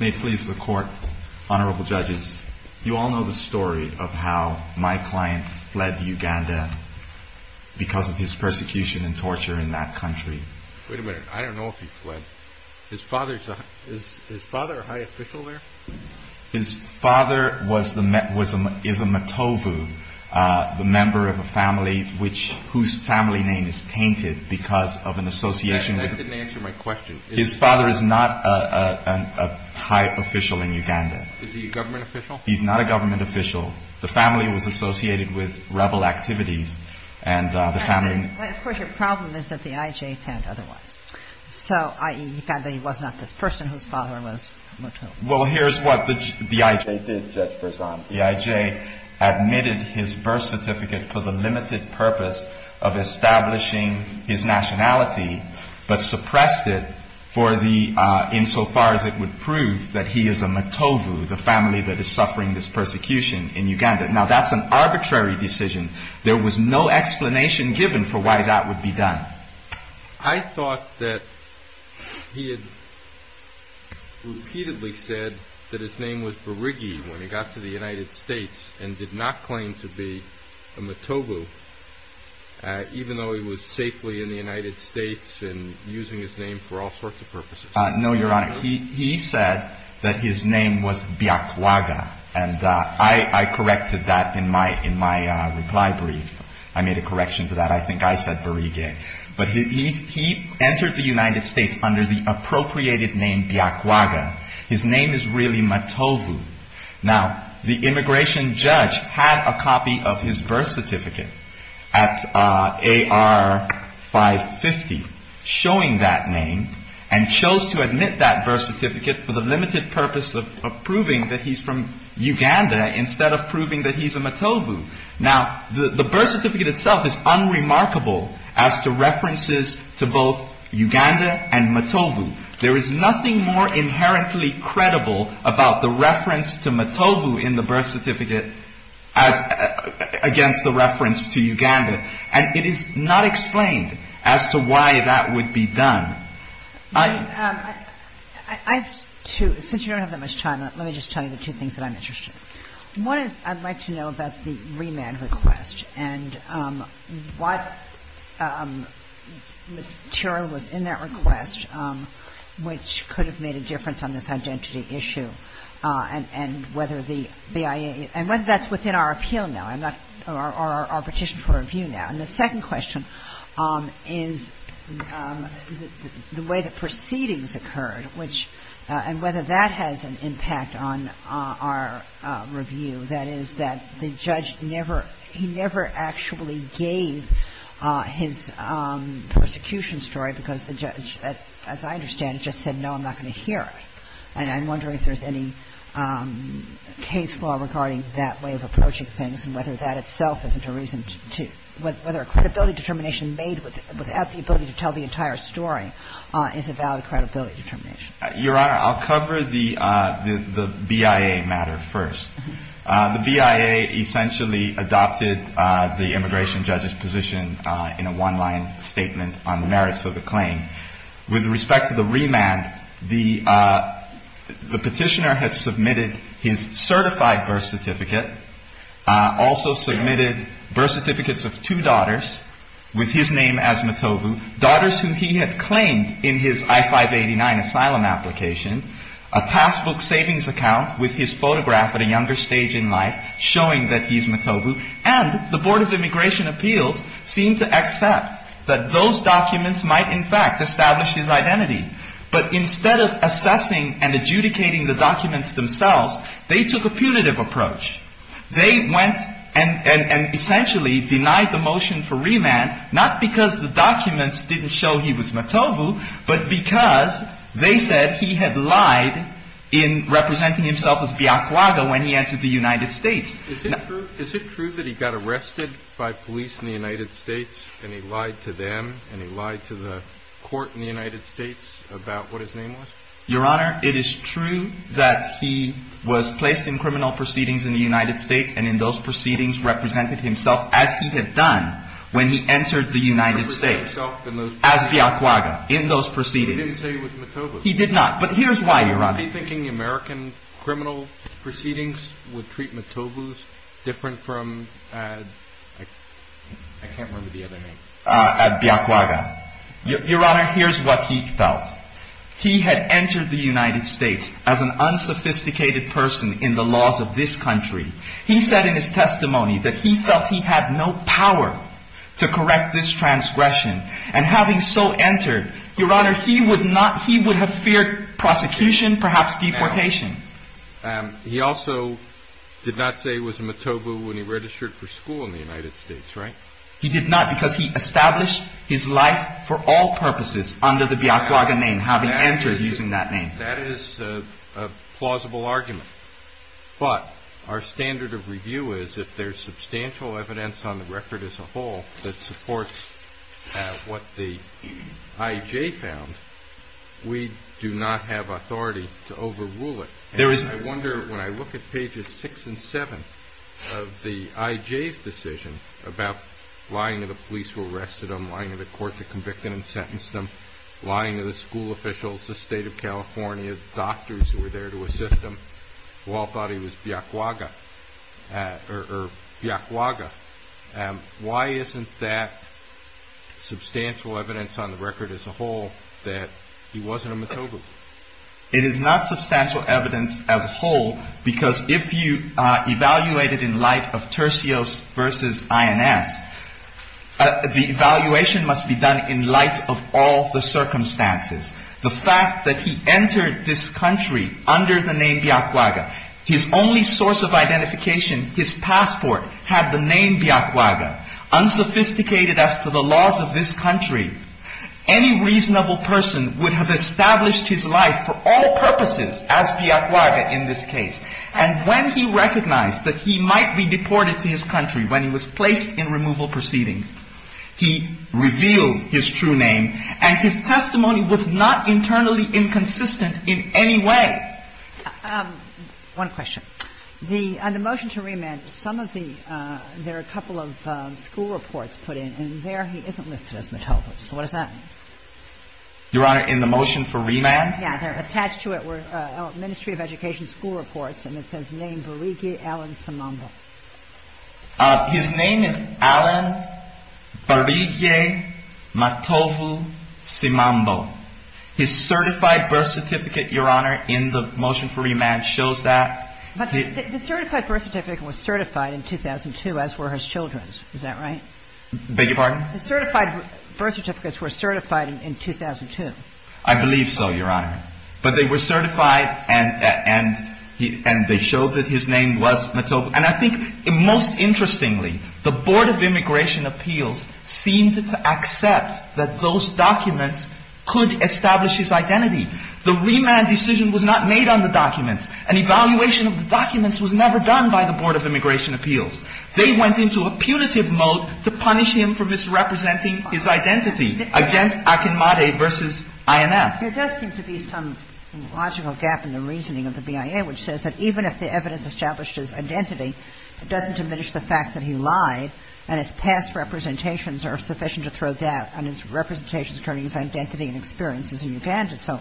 May it please the Court, Honorable Judges, you all know the story of how my client fled Uganda because of his persecution and torture in that country. Wait a minute, I don't know if he fled. His father, is his father a high official there? His father is a Matovu, the member of a family whose family name is tainted because of an association with- That didn't answer my question. His father is not a high official in Uganda. Is he a government official? He's not a government official. The family was associated with rebel activities and the family- Of course, your problem is that the IJ found otherwise. So, i.e., he found that he was not this person whose father was Matovu. Well, here's what the IJ did, Judge Bersan. The IJ admitted his birth certificate for the limited purpose of establishing his nationality, but suppressed it insofar as it would prove that he is a Matovu, the family that is suffering this persecution in Uganda. Now, that's an arbitrary decision. There was no explanation given for why that would be done. I thought that he had repeatedly said that his name was Berigye when he got to the United States and did not claim to be a Matovu, even though he was safely in the United States and using his name for all sorts of purposes. No, your Honor. He said that his name was Byakwaga, and I corrected that in my reply brief. I made a correction to that. I think I said Berigye. But he entered the United had a copy of his birth certificate at AR 550 showing that name and chose to admit that birth certificate for the limited purpose of proving that he's from Uganda instead of proving that he's a Matovu. Now, the birth certificate itself is unremarkable as to references to both Uganda and Matovu. There is nothing more inherently credible about the reference to Matovu in the birth certificate as against the reference to Uganda. And it is not explained as to why that would be done. I have two. Since you don't have that much time, let me just tell you the two things that I'm interested in. One is I'd like to know about the remand request and what material was in that request which could have made a difference on this identity issue and whether the BIA – and whether that's within our appeal now or our petition for review now. And the second question is the way the proceedings occurred, which – and whether that has an impact on our review, that is, that the judge never – he never actually gave his persecution story because the judge, as I understand it, just said, no, I'm not going to hear it. And I'm wondering if there's any case law regarding that way of approaching things and whether that itself isn't a reason to – whether a credibility determination made without the ability to tell the entire story is a valid credibility determination. Your Honor, I'll cover the BIA matter first. The BIA essentially adopted the immigration judge's position in a one-line statement on the merits of the claim. With respect to the remand, the petitioner had submitted his certified birth certificate, also submitted birth certificates of two daughters with his name as Matobu, daughters who he had claimed in his I-589 asylum application, a passbook savings account with his photograph at a younger stage in life showing that he's Matobu. And the Board of Immigration Appeals seemed to accept that those documents might, in fact, establish his identity. But instead of assessing and adjudicating the documents themselves, they took a punitive approach. They went and essentially denied the motion for remand, not because the documents didn't show he was Matobu, but because they said he had lied in representing himself as Biakwaga when he entered the United States. Is it true that he got arrested by police in the United States and he lied to them and he lied to the court in the United States about what his name was? Your Honor, it is true that he was placed in criminal proceedings in the United States and in those proceedings represented himself as he had done when he entered the United States as Biakwaga in those proceedings. He didn't say he was Matobu. He did not. But here's why, Your Honor. Was he thinking the American criminal proceedings would treat Matobu different from, I can't remember the other name, Biakwaga? Your Honor, here's what he felt. He had entered the United States as an unsophisticated person in the laws of this country. He said in his testimony that he felt he had no power to correct this transgression. And having so entered, Your Honor, he would not, he would have feared prosecution, perhaps deportation. He also did not say he was Matobu when he registered for school in the United States, right? He did not because he established his life for all purposes under the Biakwaga name, having entered using that name. That is a plausible argument. But our standard of review is if there's substantial evidence on the record as a whole that supports what the I.J. found, we do not have authority to overrule it. There is no... I wonder, when I look at pages six and seven of the I.J.'s decision about lying to the police who arrested him, lying to the court that convicted and sentenced him, lying to the school officials, the State of California, doctors who were there to assist him, who were there to assist him, why isn't that substantial evidence on the record as a whole that he wasn't a Matobu? It is not substantial evidence as a whole because if you evaluate it in light of Tercios v. INS, the evaluation must be done in light of all the circumstances. The fact that he entered this country under the name Biakwaga, his only source of identification, his passport, had the name Biakwaga, unsophisticated as to the laws of this country, any reasonable person would have established his life for all purposes as Biakwaga in this case. And when he recognized that he might be deported to his country when he was placed in removal proceedings, he revealed his true name, and his testimony was not internally inconsistent in any way. One question. On the motion to remand, there are a couple of school reports put in, and there he isn't listed as Matobu. So what does that mean? Your Honor, in the motion for remand? Yeah, they're attached to it. Ministry of Education school reports, and it says name Barigi Alan Simambo. His name is Alan Barigi Matobu Simambo. His certified birth certificate, Your Honor, in the motion for remand shows that. But the certified birth certificate was certified in 2002, as were his children's. Is that right? Beg your pardon? The certified birth certificates were certified in 2002. I believe so, Your Honor. But they were certified, and they showed that his name was Matobu. And I think most interestingly, the Board of Immigration Appeals seemed to accept that those documents could establish his identity. The remand decision was not made on the documents. An evaluation of the documents was never done by the Board of Immigration Appeals. They went into a punitive mode to punish him for misrepresenting his identity against Akinmade v. INS. There does seem to be some logical gap in the reasoning of the BIA, which says that even if the evidence established his identity, it doesn't diminish the fact that he lied and his past representations are sufficient to throw doubt on his representations concerning his identity and experiences in Uganda. So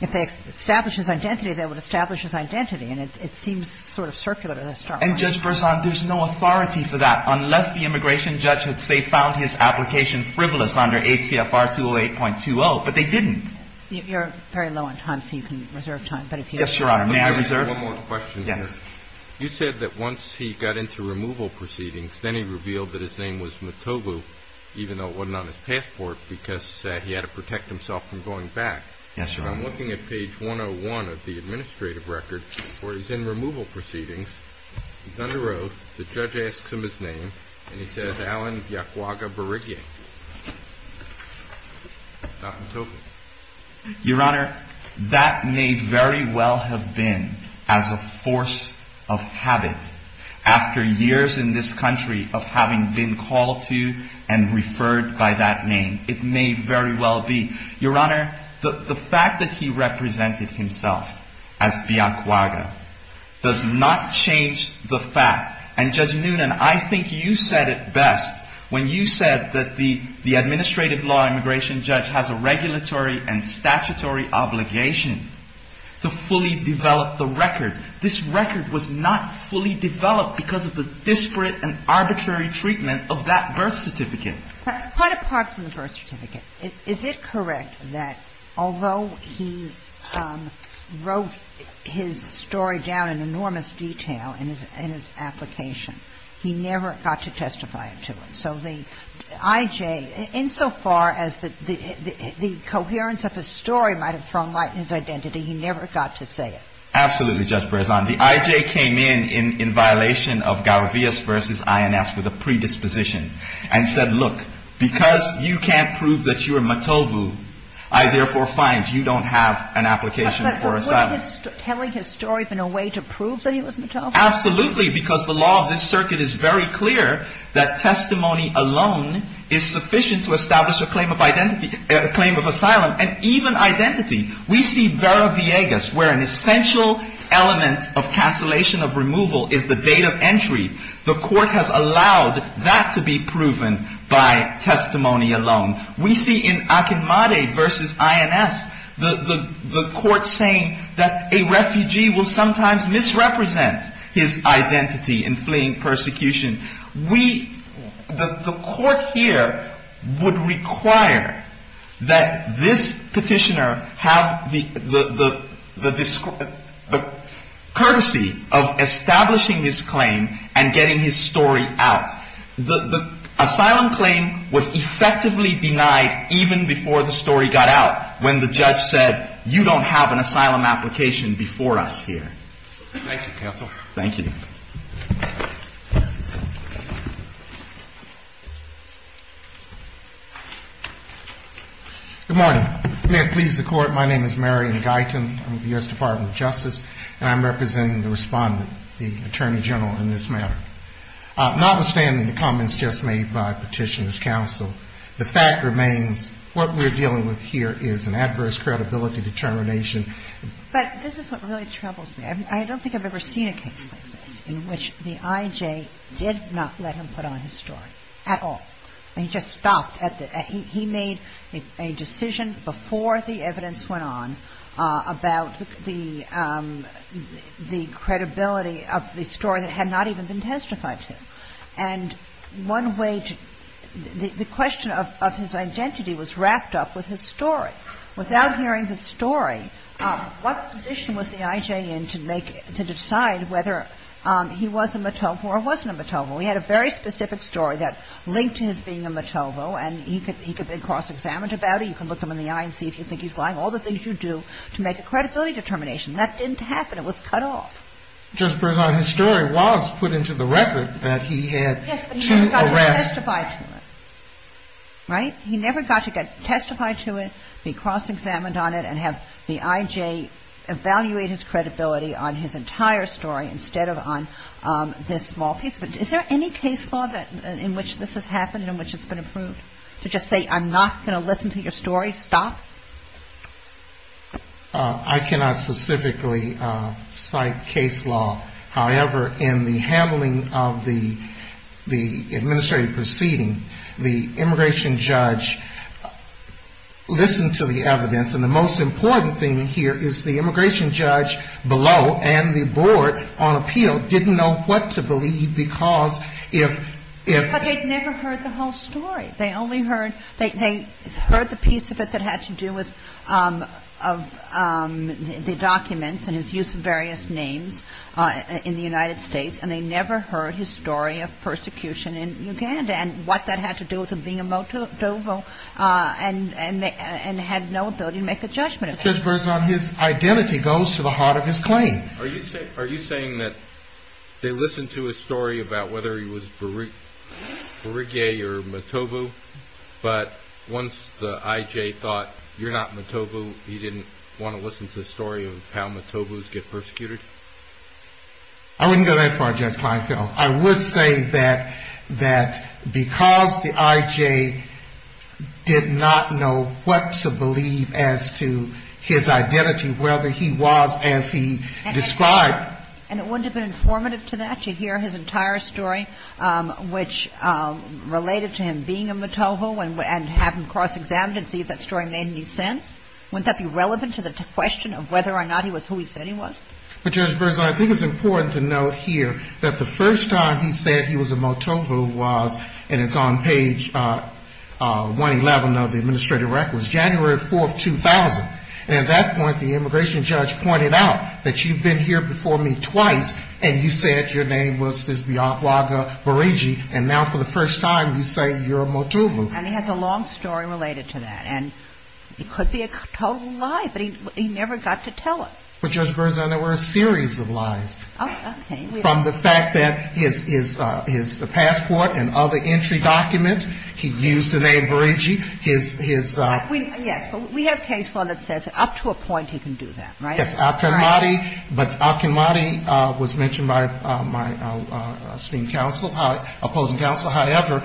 if they establish his identity, they would establish his identity. And it seems sort of circular to the start. And, Judge Berzon, there's no authority for that unless the immigration judge had, say, found his application frivolous under ACFR 208.20. But they didn't. You're very low on time, so you can reserve time. Yes, Your Honor. May I reserve? One more question here. Yes. You said that once he got into removal proceedings, then he revealed that his name was Motobu, even though it wasn't on his passport, because he had to protect himself from going back. Yes, Your Honor. I'm looking at page 101 of the administrative record where he's in removal proceedings. He's under oath. The judge asks him his name, and he says Alan Yakuaga Berigye. Not Motobu. Your Honor, that may very well have been as a force of habit after years in this country of having been called to and referred by that name. It may very well be. Your Honor, the fact that he represented himself as Yakuaga does not change the fact. And, Judge Noonan, I think you said it best when you said that the administrative law immigration judge has a regulatory and statutory obligation to fully develop the record. This record was not fully developed because of the disparate and arbitrary treatment of that birth certificate. Quite apart from the birth certificate, is it correct that although he wrote his story down in enormous detail in his application, he never got to testify to it? So the I.J., insofar as the coherence of his story might have thrown light in his identity, he never got to say it? Absolutely, Judge Berzon. The I.J. came in in violation of Garavias v. INS with a predisposition and said, look, because you can't prove that you are Motobu, I therefore find you don't have an application for asylum. But wouldn't telling his story have been a way to prove that he was Motobu? Absolutely, because the law of this circuit is very clear that testimony alone is sufficient to establish a claim of identity, a claim of asylum and even identity. We see Garavias, where an essential element of cancellation of removal is the date of entry. The court has allowed that to be proven by testimony alone. We see in Akinmade v. INS, the court saying that a refugee will sometimes misrepresent his identity in fleeing persecution. We, the court here, would require that this petitioner have the courtesy of establishing his claim and getting his story out. The asylum claim was effectively denied even before the story got out, when the judge said, you don't have an asylum application before us here. Thank you, counsel. Thank you. Good morning. May it please the court, my name is Marion Guyton, I'm with the U.S. Department of Justice, and I'm representing the respondent, the Attorney General in this matter. Notwithstanding the comments just made by Petitioner's counsel, the fact remains what we're dealing with here is an adverse credibility determination. But this is what really troubles me. I don't think I've ever seen a case like this in which the I.J. did not let him put on his story at all. He just stopped at the end. He made a decision before the evidence went on about the credibility of the story that had not even been testified to. And one way to the question of his identity was wrapped up with his story. Without hearing the story, what position was the I.J. in to make, to decide whether he was a Matovo or wasn't a Matovo? We had a very specific story that linked to his being a Matovo, and he could be cross-examined about it. You can look him in the eye and see if you think he's lying. All the things you do to make a credibility determination. That didn't happen. It was cut off. Justice Breyzan, his story was put into the record that he had two arrests. Yes, but he never got to testify to it, right? He never got to testify to it, be cross-examined on it, and have the I.J. evaluate his credibility on his entire story instead of on this small piece. But is there any case law in which this has happened, in which it's been approved, to just say, I'm not going to listen to your story, stop? I cannot specifically cite case law. However, in the handling of the the administrative proceeding, the immigration judge listened to the evidence. And the most important thing here is the immigration judge below and the board on appeal didn't know what to believe because if if. But they'd never heard the whole story. They only heard they heard the piece of it that had to do with the documents and his use of various names in the United States. And they never heard his story of persecution in Uganda and what that had to do with him being a Matovo. And and they had no ability to make a judgment. Judge Berzon, his identity goes to the heart of his claim. Are you are you saying that they listened to a story about whether he was Beru, Berige or Matovo, but once the I.J. thought you're not Matovo, he didn't want to listen to the story of how Matovos get persecuted? I wouldn't go that far, Judge Kleinfeld. I would say that that because the I.J. did not know what to believe as to his identity, whether he was as he described. And it wouldn't have been informative to that. You hear his entire story, which related to him being a Matovo and and have him cross-examined and see if that story made any sense. Wouldn't that be relevant to the question of whether or not he was who he said he was? But Judge Berzon, I think it's important to note here that the first time he said he was a Matovo was, and it's on page 111 of the administrative records, January 4th, 2000. And at that point, the immigration judge pointed out that you've been here before me twice and you said your name was this Biawaga Berige. And now for the first time, you say you're a Matovo. And he has a long story related to that. And it could be a total lie, but he never got to tell it. But, Judge Berzon, there were a series of lies from the fact that his passport and other entry documents, he used the name Berige. His his. Yes. But we have case law that says up to a point, he can do that, right? Yes. Al-Khamidi. But Al-Khamidi was mentioned by my esteemed counsel, opposing counsel. However,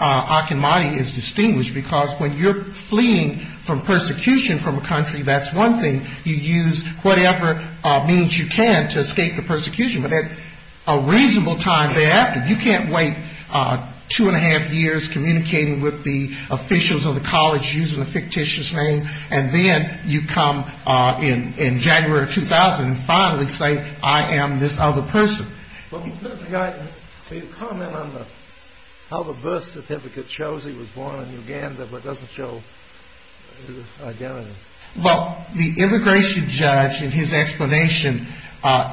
Al-Khamidi is distinguished because when you're fleeing from persecution from a country, that's one thing you use, whatever means you can to escape the persecution. But at a reasonable time thereafter, you can't wait two and a half years communicating with the officials of the college using a fictitious name. And then you come in in January 2000 and finally say, I am this other person. But the comment on how the birth certificate shows he was born in Uganda, but doesn't show his identity. Well, the immigration judge in his explanation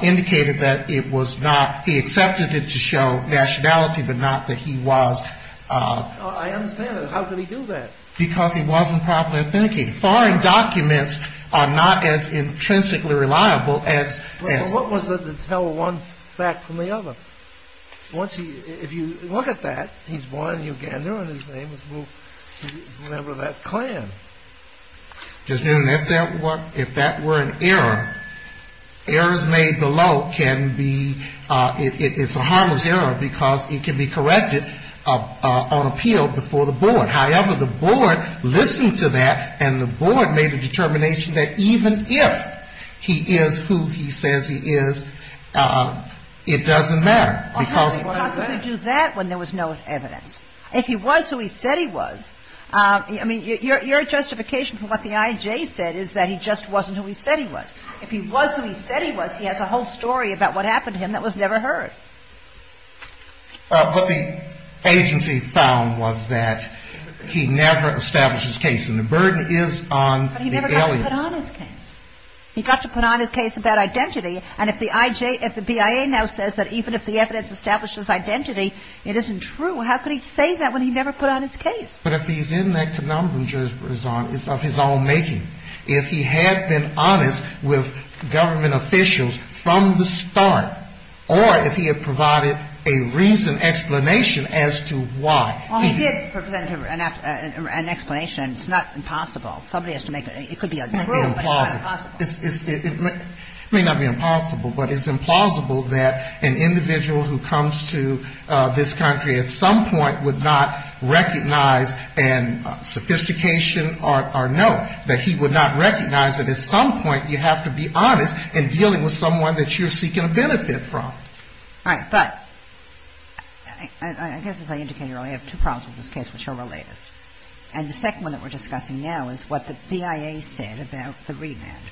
indicated that it was not. He accepted it to show nationality, but not that he was. I understand that. How could he do that? Because he wasn't properly authenticated. Foreign documents are not as intrinsically reliable as. What was it to tell one fact from the other? Once he if you look at that, he's born in Uganda and his name is a member of that clan. Judge Newton, if that were an error, errors made below can be, it's a harmless error because it can be corrected on appeal before the board. However, the board listened to that and the board made a determination that even if he is who he says he is, it doesn't matter. Because you do that when there was no evidence. If he was who he said he was, I mean, your justification for what the IJ said is that he just wasn't who he said he was. If he was who he said he was, he has a whole story about what happened to him that was never heard. But the agency found was that he never established his case and the burden is on the. He never got to put on his case. He got to put on his case about identity. And if the IJ, if the BIA now says that even if the evidence establishes identity, it isn't true. How could he say that when he never put on his case? But if he's in that phenomenon, it's of his own making. If he had been honest with government officials from the start, or if he had provided a reason, explanation as to why. Well, he did present an explanation. And it's not impossible. Somebody has to make it. It could be a drill, but it's not impossible. It may not be impossible, but it's implausible that an individual who comes to this country at some point would not recognize and sophistication or know that he would not recognize that at some point you have to be honest in dealing with someone that you're seeking a benefit from. All right. But I guess as I indicated earlier, I have two problems with this case, which are related. And the second one that we're discussing now is what the BIA said about the remand,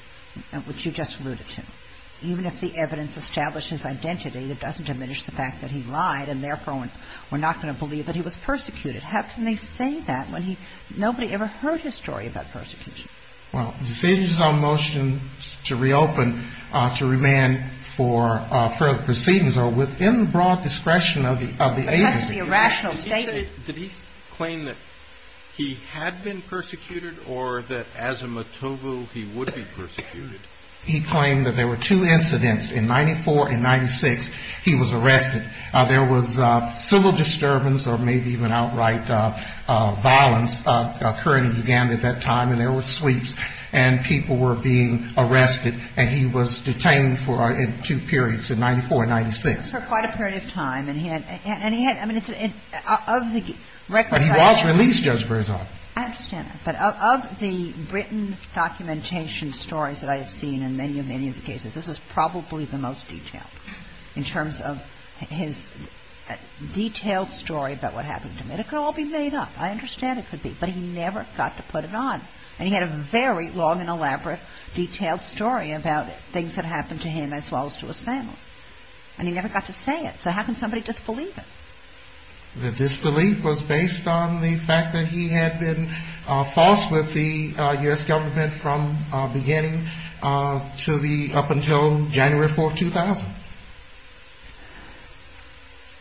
which you just alluded to. Even if the evidence establishes identity, that doesn't diminish the fact that he lied and therefore we're not going to believe that he was persecuted. How can they say that when nobody ever heard his story about persecution? Well, decisions on motions to reopen, to remand for further proceedings are within the broad discretion of the agency. But that's the irrational statement. Did he claim that he had been persecuted or that as a Mottobu, he would be persecuted? He claimed that there were two incidents in 94 and 96. He was arrested. There was civil disturbance or maybe even outright violence occurring in Uganda at that time. And there were sweeps and people were being arrested. And he was detained for two periods in 94 and 96. For quite a period of time. And he had any of the record. But he was released, Judge Brizard. I understand. But of the written documentation stories that I have seen in many, many of the cases, this is probably the most detailed in terms of his detailed story about what happened to him. It could all be made up. I understand it could be, but he never got to put it on. And he had a very long and elaborate, detailed story about things that happened to him as well as to his family. And he never got to say it. So how can somebody disbelieve it? The disbelief was based on the fact that he had been false with the U.S. government from beginning to the up until January 4, 2000.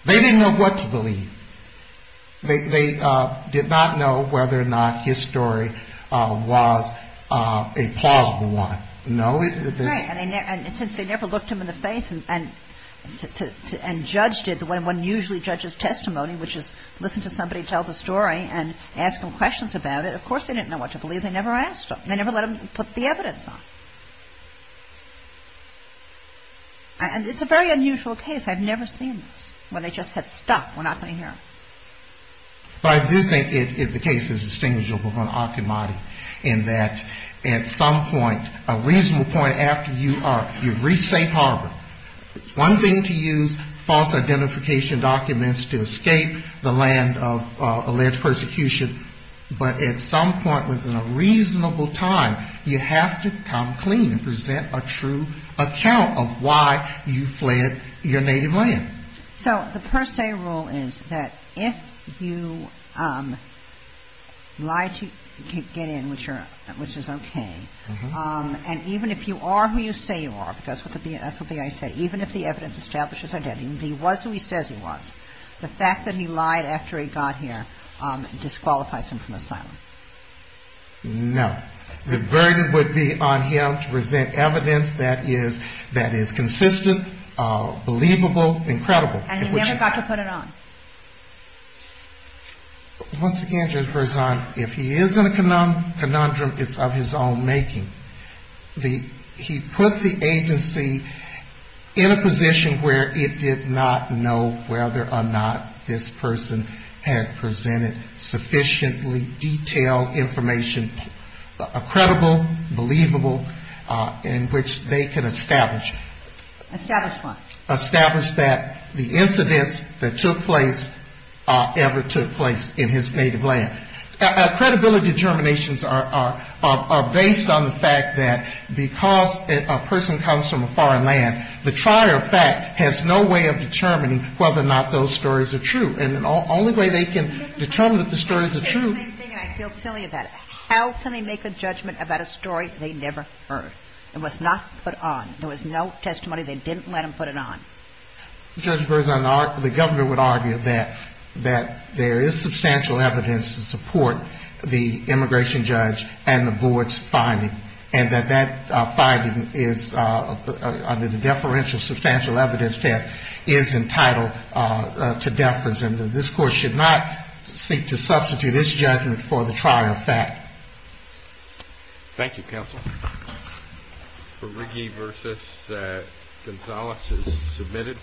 They didn't know what to believe. They did not know whether or not his story was a plausible one. No. And since they never looked him in the face and judged it the way one usually judges testimony, which is listen to somebody tell the story and ask them questions about it. Of course, they didn't know what to believe. They never asked. They never let him put the evidence on. And it's a very unusual case. I've never seen one. They just said, stop. We're not going to hear. But I do think the case is distinguishable from Akimadi in that at some point, a reasonable point after you are, you've reached St. Harvard, it's one thing to use false identification documents to escape the land of alleged persecution. But at some point within a reasonable time, you have to come clean and present a true account of why you fled your native land. So the per se rule is that if you lie to get in, which are which is OK, and even if you are who you say you are, because that's what the FBI said, even if the evidence establishes identity, he was who he says he was. The fact that he lied after he got here disqualifies him from asylum. No, the burden would be on him to present evidence that is that is consistent, believable, incredible. And he never got to put it on. Once again, Judge Berzon, if he is in a conundrum, it's of his own making. The he put the agency in a position where it did not know whether or not this person had presented sufficiently detailed information, credible, believable, in which they can establish, establish that the incidents that took place ever took place in his native land. Credibility determinations are based on the fact that because a person comes from a foreign land, the trial, in fact, has no way of determining whether or not those stories are true. And the only way they can determine that the stories are true. I feel silly about it. How can they make a judgment about a story they never heard and was not put on? There was no testimony. They didn't let him put it on. Judge Berzon, the governor would argue that that there is substantial evidence to support the immigration judge and the board's finding and that that finding is under the deferential substantial evidence test is entitled to deference. And this court should not seek to substitute this judgment for the trial fact. Thank you, counsel. For Ricky versus that. Gonzalez is submitted.